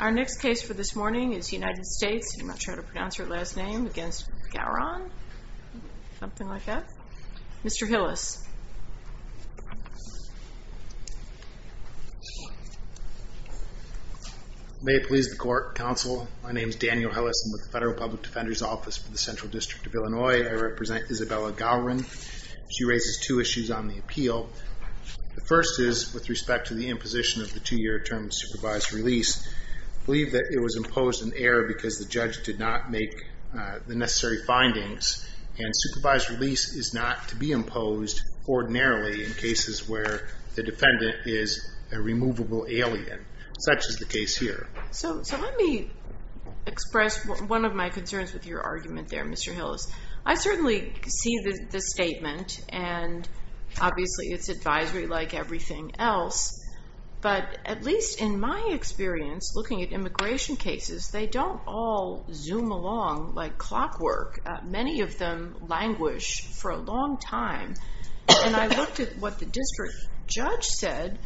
Our next case for this morning is United States, I'm not sure how to pronounce her last name, against Gawron, something like that. Mr. Hillis. May it please the court, counsel, my name is Daniel Hillis. I'm with the Federal Public Defender's Office for the Central District of Illinois. I represent Izabela Gawron. She raises two issues on the appeal. The first is with respect to the imposition of the two-year term supervised release. I believe that it was imposed in error because the judge did not make the necessary findings, and supervised release is not to be imposed ordinarily in cases where the defendant is a removable alien, such as the case here. So let me express one of my concerns with your argument there, Mr. Hillis. I certainly see the statement, and obviously it's advisory like everything else, but at least in my experience looking at immigration cases, they don't all zoom along like clockwork. Many of them languish for a long time. And I looked at what the district judge said,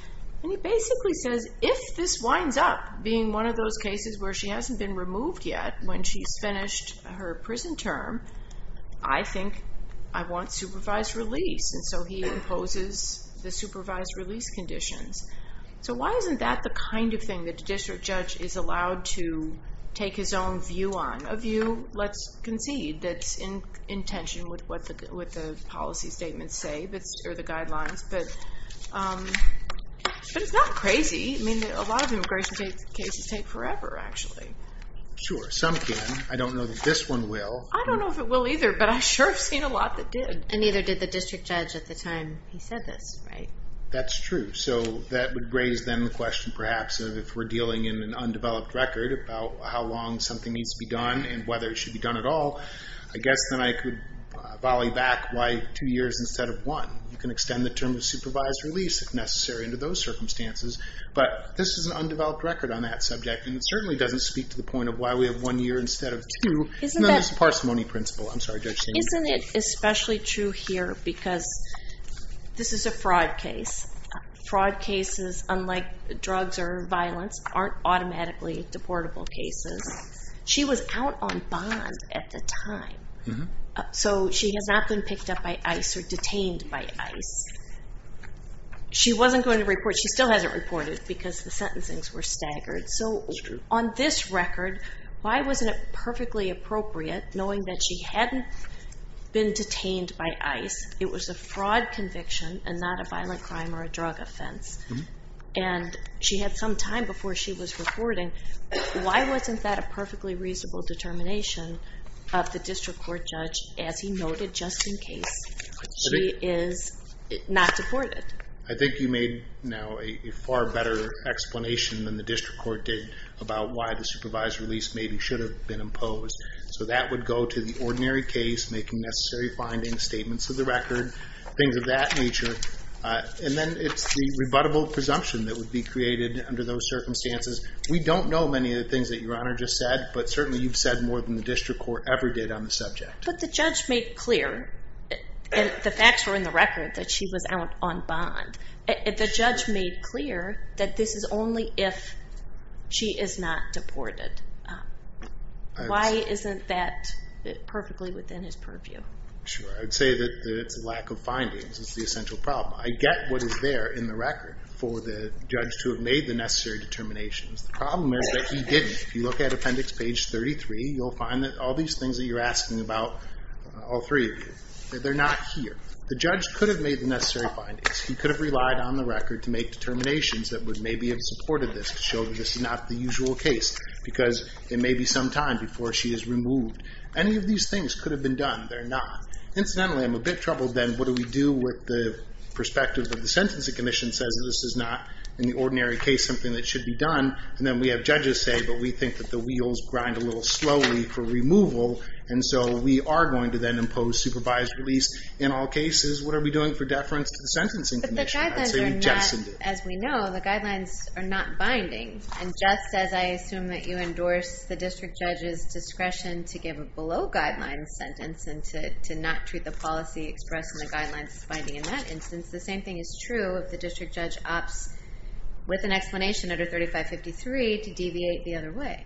and he basically says, if this winds up being one of those cases where she hasn't been removed yet when she's finished her prison term, I think I want supervised release. And so he imposes the supervised release conditions. So why isn't that the kind of thing that the district judge is allowed to take his own view on? A view, let's concede, that's in tension with what the policy statements say, or the guidelines. But it's not crazy. I mean, a lot of immigration cases take forever, actually. Sure, some can. I don't know that this one will. I don't know if it will either, but I sure have seen a lot that did. And neither did the district judge at the time he said this, right? That's true. So that would raise then the question, perhaps, of if we're dealing in an undeveloped record about how long something needs to be done, and whether it should be done at all. I guess then I could volley back why two years instead of one. You can extend the term of supervised release if necessary into those circumstances. But this is an undeveloped record on that subject, and it certainly doesn't speak to the point of why we have one year instead of two. It's a parsimony principle. I'm sorry, Judge. Isn't it especially true here? Because this is a fraud case. Fraud cases, unlike drugs or violence, aren't automatically deportable cases. She was out on bond at the time. So she has not been picked up by ICE or detained by ICE. She wasn't going to report. She still hasn't reported, because the sentencings were staggered. So on this record, why wasn't it perfectly appropriate, knowing that she hadn't been detained by ICE? It was a fraud conviction and not a violent crime or a drug offense. And she had some time before she was reporting. Why wasn't that a perfectly reasonable determination of the district court judge, as he noted, just in case she is not deported? I think you made now a far better explanation than the district court did about why the supervised release maybe should have been imposed. So that would go to the ordinary case, making necessary findings, statements of the record, things of that nature. And then it's the rebuttable presumption that would be created under those circumstances. We don't know many of the things that Your Honor just said, but certainly you've said more than the district court ever did on the subject. But the judge made clear, and the facts were in the record, that she was out on bond. The judge made clear that this is only if she is not deported. Why isn't that perfectly within his purview? Sure. I would say that it's a lack of findings. It's the essential problem. I get what is there in the record for the judge to have made the If you look at appendix page 33, you'll find that all these things that you're asking about, all three of you, they're not here. The judge could have made the necessary findings. He could have relied on the record to make determinations that would maybe have supported this, to show that this is not the usual case, because it may be some time before she is removed. Any of these things could have been done. They're not. Incidentally, I'm a bit troubled, then, what do we do with the perspective that the Sentencing Commission says that this is not, in the ordinary case, something that should be done, and then we have judges say, but we think that the wheels grind a little slowly for removal, and so we are going to then impose supervised release in all cases? What are we doing for deference to the Sentencing Commission? But the guidelines are not, as we know, the guidelines are not binding. And just as I assume that you endorse the district judge's discretion to give a below-guidelines sentence, and to not treat the policy expressed in the guidelines as binding in that instance, the same thing is true if the district judge opts with an explanation under 3553 to deviate the other way.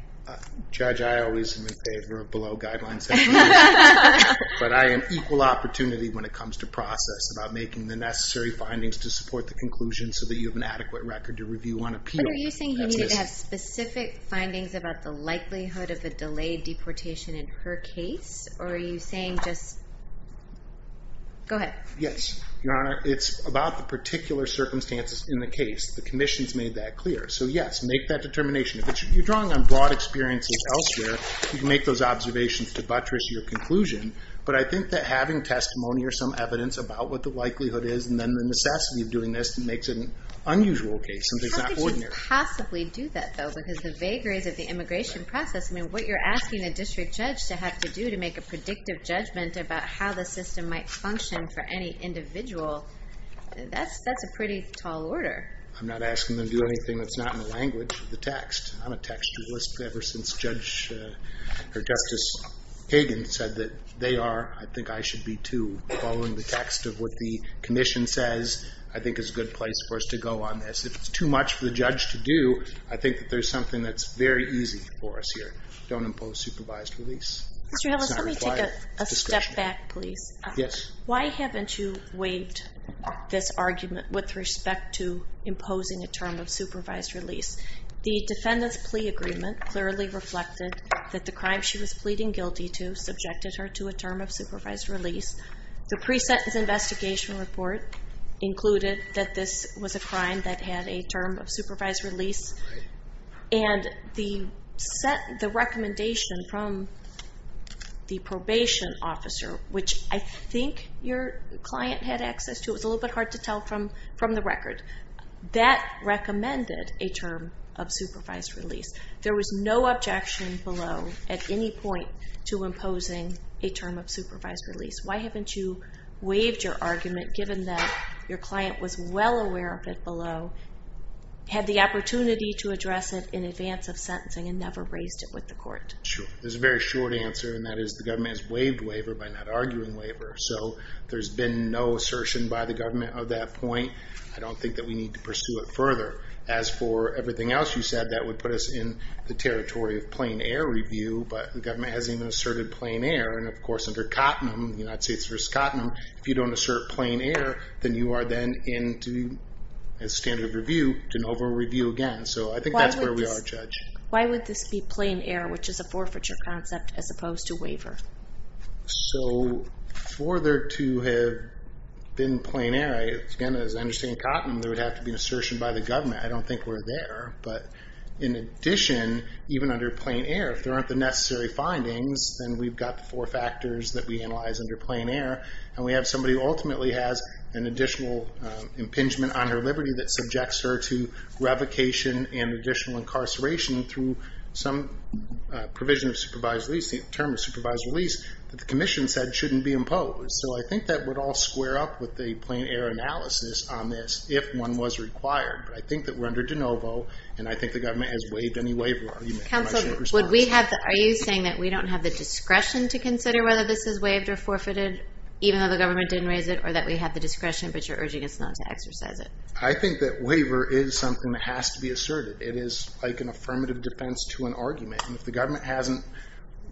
Judge, I always am in favor of below-guidelines sentences, but I am equal opportunity when it comes to process, about making the necessary findings to support the conclusion so that you have an adequate record to review on appeal. But are you saying he needed to have specific findings about the likelihood of a delayed deportation in her case, or are you saying just... Go ahead. Yes. Your Honor, it's about the particular circumstances in the case. The commission's made that clear. So yes, make that determination. If you're drawing on broad experiences elsewhere, you can make those observations to buttress your conclusion, but I think that having testimony or some evidence about what the likelihood is, and then the necessity of doing this, makes it an unusual case, something that's not ordinary. How could you possibly do that, though? Because the vagaries of the immigration process, I mean, what you're asking a district judge to have to do to make a predictive judgment about how the system might function for any individual, that's a pretty tall order. I'm not asking them to do anything that's not in the language of the text. I'm a textualist ever since Judge, or Justice Kagan said that they are, I think I should be, too. Following the text of what the commission says, I think, is a good place for us to go on this. If it's too much for the judge to do, I think that there's something that's very easy for us here. Don't impose a term of supervised release. Mr. Ellis, let me take a step back, please. Yes. Why haven't you waived this argument with respect to imposing a term of supervised release? The defendant's plea agreement clearly reflected that the crime she was pleading guilty to subjected her to a term of supervised release. The pre-sentence investigation report included that this was a crime that had a term of supervised release, and the recommendation from the probation officer, which I think your client had access to, it was a little bit hard to tell from the record, that recommended a term of supervised release. There was no objection below at any point to imposing a term of supervised release. Why haven't you waived your argument, given that your client was well aware of it below, had the opportunity to address it in advance of sentencing, and never raised it with the court? Sure. There's a very short answer, and that is the government has waived waiver by not arguing waiver, so there's been no assertion by the government of that point. I don't think that we need to pursue it further. As for everything else you said, that would put us in the territory of plain air review, but the government hasn't even asserted plain air, and of course under Cottenham, the United States v. Cottenham, if you don't assert plain air, then you are then in, as standard of review, de novo review again. So I think that's where we are, Judge. Why would this be plain air, which is a forfeiture concept, as opposed to waiver? So for there to have been plain air, again as I understand Cottenham, there would have to be an assertion by the government. I don't think we're there, but in addition, even under plain air, if there aren't the necessary findings, then we've got the four factors that we analyze under plain air, and we have somebody who ultimately has an additional impingement on her liberty that subjects her to revocation and additional incarceration through some provision of supervised release, the term of supervised release, that the commission said shouldn't be imposed. So I think that would all square up with the plain air analysis on this, if one was required, but I think that we're under de novo, and I think the government has waived any waiver argument in my short response. Counsel, are you saying that we don't have the discretion to consider whether this is waived or forfeited, even though the government didn't raise it, or that we have the discretion, but you're urging us not to exercise it? I think that waiver is something that has to be asserted. It is like an affirmative defense to an argument, and if the government hasn't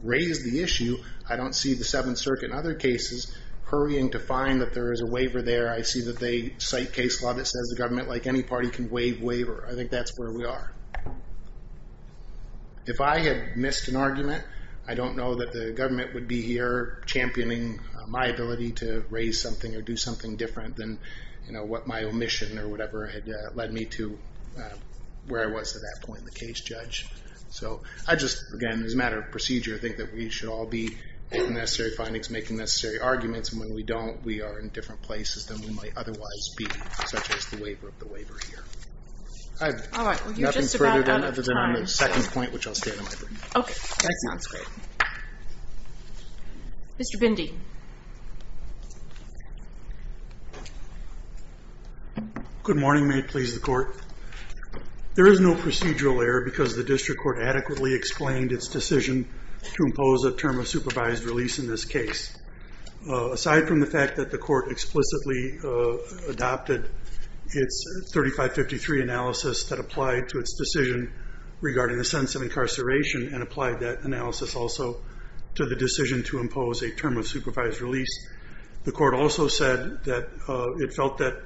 raised the issue, I don't see the Seventh Circuit in other cases hurrying to find that there is a waiver there. I see that they cite case law that says the government, like any party, can If I had missed an argument, I don't know that the government would be here championing my ability to raise something or do something different than what my omission or whatever had led me to where I was at that point in the case, Judge. So I just, again, as a matter of procedure, think that we should all be making necessary findings, making necessary arguments, and when we don't, we are in other than on the second point, which I'll stay in the library. Okay, that sounds great. Mr. Bindi. Good morning, may it please the Court. There is no procedural error because the District Court adequately explained its decision to impose a term of supervised release in this case. Aside from the fact that the Court explicitly adopted its 3553 analysis that applied to its decision regarding the sentence of incarceration and applied that analysis also to the decision to impose a term of supervised release, the Court also said that it felt that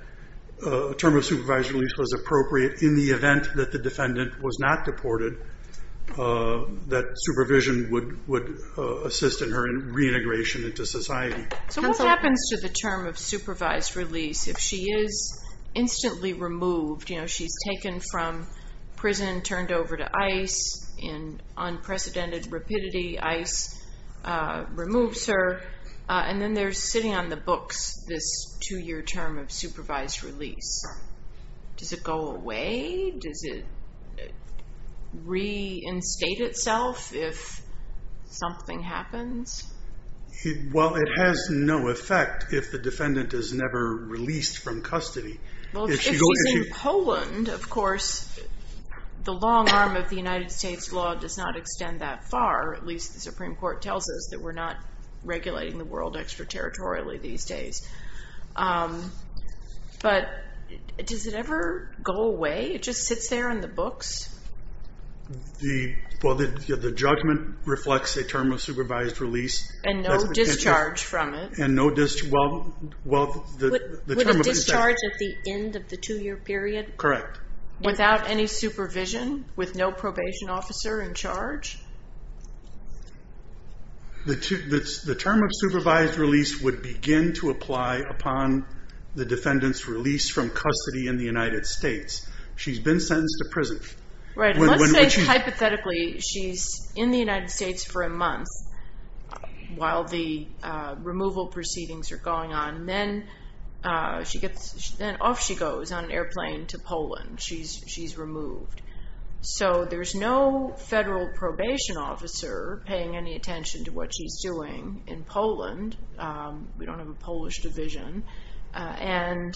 a term of supervised release was appropriate in the event that the defendant was not deported, that supervision would assist in her reintegration into society. So what happens to the term of supervised release if she is instantly removed? She's taken from prison, turned over to ICE in unprecedented rapidity, ICE removes her, and then they're sitting on the books, this two-year term of supervised release. Does it go away? Does it reinstate itself if something happens? Well, it has no effect if the defendant is never released from custody. If she's in Poland, of course, the long arm of the United States law does not extend that far, at least the Supreme Court tells us that we're not regulating the world extraterritorially these days. But does it ever go away? It just sits there on the books? Well, the judgment reflects a term of supervised release. And no discharge from it? And no discharge, well, the term of it is... With a discharge at the end of the two-year period? Correct. Without any supervision, with no probation officer in charge? The term of supervised release would begin to apply upon the defendant's release from custody in the United States. She's been sentenced to prison. Right. And let's say, hypothetically, she's in the United States for a month while the removal proceedings are going on, and then off she goes on an airplane to Poland. She's removed. So there's no federal probation officer paying any attention to what she's doing in Poland. We don't have a Polish division. And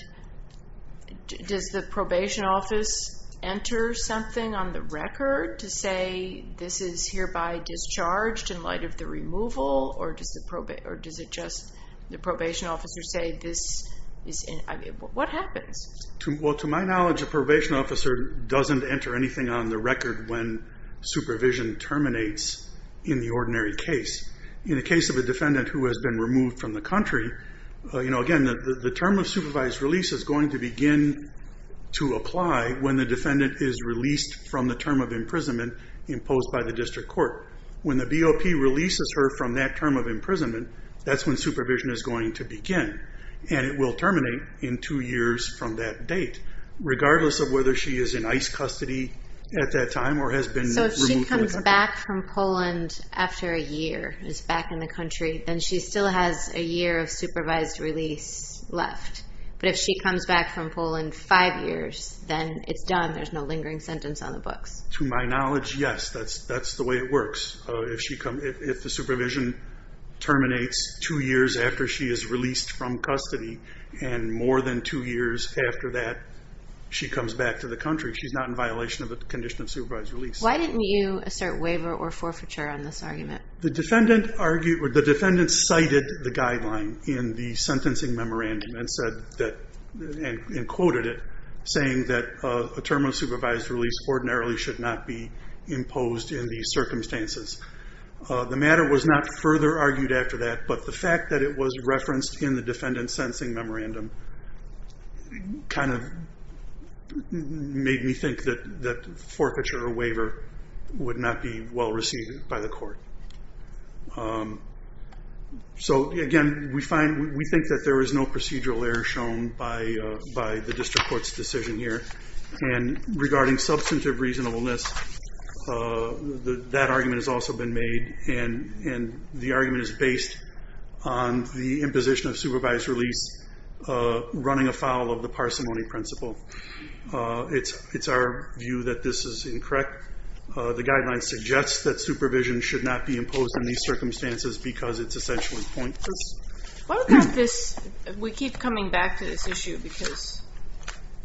does the probation office enter something on the record to say this is hereby discharged in light of the removal? Or does the probation officer say this is... What happens? Well, to my knowledge, a probation officer doesn't enter anything on the record when supervision terminates in the ordinary case. In the case of a defendant who has been removed from the country, again, the term of supervised release is going to begin to apply when the defendant is released from the term of imprisonment imposed by the district court. When the BOP releases her from that term of imprisonment, that's when supervision is going to begin. And it will terminate in two years from that date, regardless of whether she is in ICE custody at that time or has been removed from the country. So if she comes back from Poland after a year, is back in the country, then she still has a year of supervised release left. But if she comes back from Poland five years, then it's done. There's no lingering sentence on the books. To my knowledge, yes. That's the way it works. If the supervision terminates two years after she is released from custody, and more than two years after that, she comes back to the country, she's not in violation of the condition of supervised release. Why didn't you assert waiver or forfeiture on this argument? The defendant cited the guideline in the sentencing memorandum and quoted it, saying that a term of supervised release ordinarily should not be imposed in these circumstances. The matter was not further argued after that, but the fact that it was referenced in the defendant's sentencing memorandum kind of made me think that forfeiture or waiver would not be well received by the court. So again, we think that there is no procedural error shown by the district court's decision here. And regarding substantive reasonableness, that argument has also been made, and the argument is based on the imposition of supervised release, running afoul of the parsimony principle. It's our view that this is incorrect. The guideline suggests that supervision should not be imposed in these circumstances because it's essentially pointless. What about this? We keep coming back to this issue because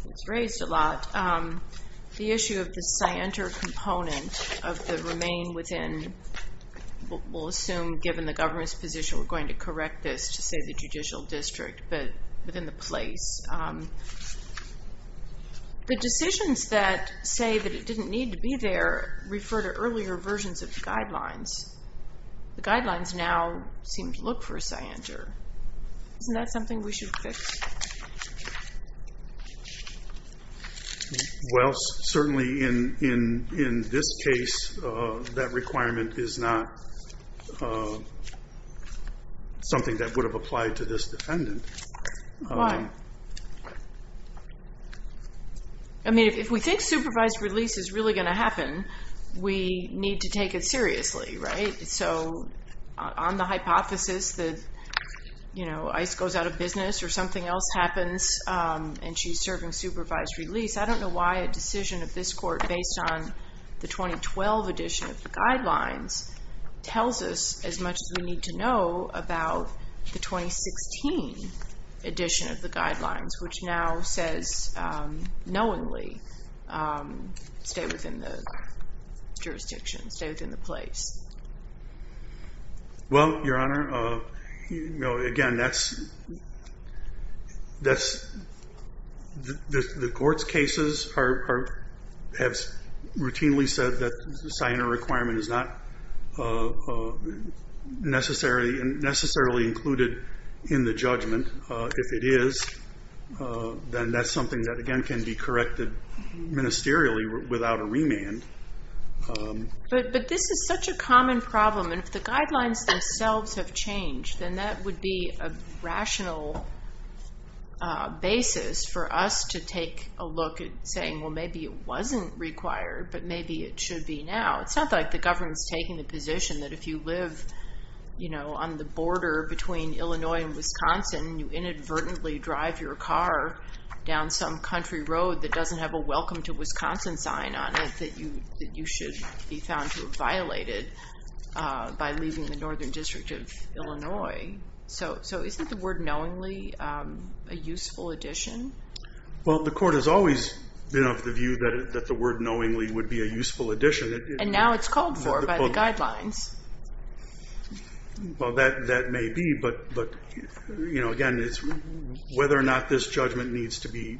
it's raised a lot. The issue of the scienter component of the remain within, we'll assume given the government's position, we're going to correct this to say the judicial district, but within the place. The decisions that say that it didn't need to be there refer to earlier versions of the guidelines. The guidelines now seem to look for a scienter. Isn't that something we should fix? Well, certainly in this case, that requirement is not something that would have applied to this defendant. I mean, if we think supervised release is really going to happen, we need to take it seriously, right? So on the hypothesis that ICE goes out of business or something else happens and she's serving supervised release, I don't know why a decision of this court based on the 2012 edition of the guidelines tells us as much as we need to know about the 2016 edition of the guidelines, which now says knowingly stay within the jurisdiction, stay within the place. Well, Your Honor, again, the court's cases have routinely said that scienter requirement is not necessarily included in the judgment. If it is, then that's something that, again, can be corrected ministerially without a remand. But this is such a common problem. And if the guidelines themselves have changed, then that would be a rational basis for us to take a look at saying, well, maybe it wasn't required, but maybe it should be now. It's not like the government's taking the position that if you live on the border between Illinois and Wisconsin, you inadvertently drive your car down some country road that doesn't have a welcome to Wisconsin sign on it that you should be found to have violated by leaving the northern district of Illinois. So isn't the word knowingly a useful addition? Well, the court has always been of the view that the word knowingly would be a useful addition. And now it's called for by the guidelines. Well, that may be, but again, whether or not this judgment needs to be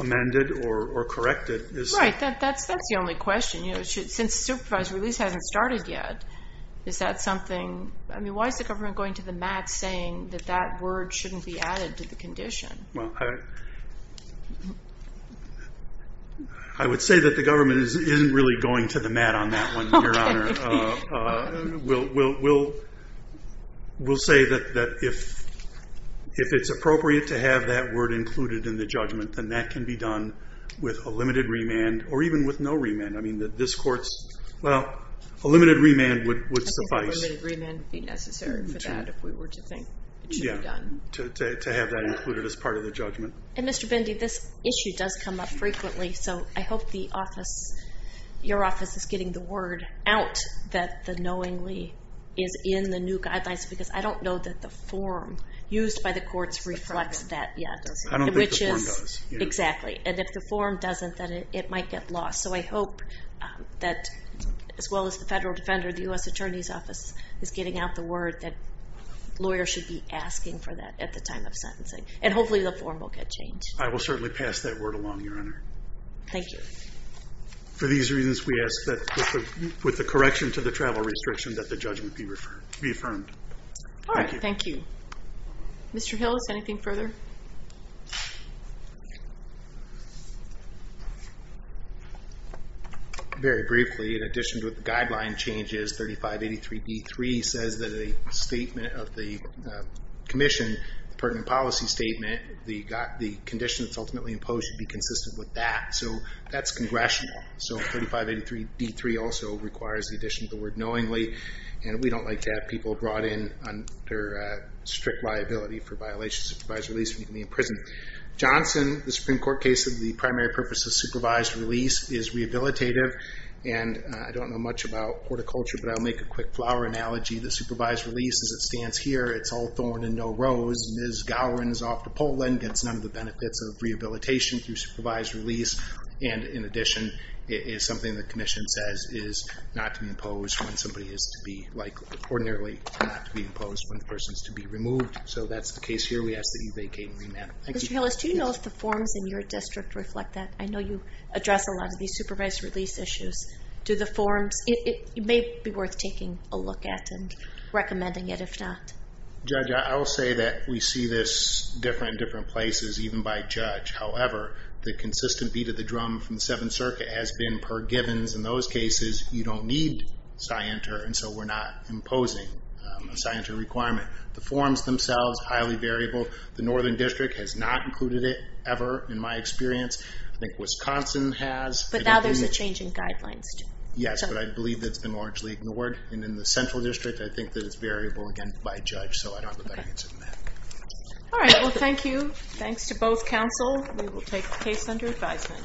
amended or corrected. Right, that's the only question. Since supervised release hasn't started yet, is that something, I mean, why is the government going to the mat saying that that word shouldn't be added to the condition? Well, I would say that the government isn't really going to the mat on that one, Your Honor. We'll say that if it's appropriate to have that word included in the judgment, then that can be done with a limited remand or even with no remand. I mean, that this court's, well, a limited remand would suffice. I think a limited remand would be necessary for that if we were to think it should be done. To have that included as part of the judgment. And Mr. Bendy, this issue does come up frequently, so I hope your office is getting the word out that the knowingly is in the new guidelines, because I don't know that the form used by the courts reflects that yet. I don't think the form does. Exactly. And if the form doesn't, then it might get lost. So I hope that as well as the federal defender, the U.S. Attorney's Office is getting out the word that lawyers should be asking for that at the time of sentencing. And hopefully the form will get Thank you. For these reasons, we ask that with the correction to the travel restriction that the judgment be affirmed. All right. Thank you. Mr. Hillis, anything further? Very briefly, in addition to the guideline changes, 3583B3 says that a statement of the commission, the pertinent policy statement, the condition that's ultimately imposed should be consistent with that. So that's congressional. So 3583B3 also requires the addition of the word knowingly, and we don't like to have people brought in under strict liability for violations of supervised release when you can be in prison. Johnson, the Supreme Court case of the primary purpose of supervised release is rehabilitative. And I don't know much about horticulture, but I'll make a quick flower analogy. The supervised release, as it stands here, it's all thorn and no rose. Ms. Gowron is off to Poland, gets none of the benefits of rehabilitation through supervised release. And in addition, it is something the commission says is not to impose when somebody is to be like ordinarily not to be imposed when the person is to be removed. So that's the case here. We ask that you vacate and remand. Mr. Hillis, do you know if the forms in your district reflect that? I know you address a lot of these supervised release issues. Do the forms, it may be worth taking a look at and recommending it if not. Judge, I will say that we see this different in different places, even by judge. However, the consistent beat of the drum from the Seventh Circuit has been per givens. In those cases, you don't need scienter, and so we're not imposing a scienter requirement. The forms themselves, highly variable. The Northern District has not included it ever, in my experience. I think Wisconsin has. But now there's a change in guidelines too. Yes, but I believe that's been largely ignored. And in the Central District, I think that it's variable again by judge. So I don't know if it's in there. All right. Well, thank you. Thanks to both counsel. We will take the case under advisement.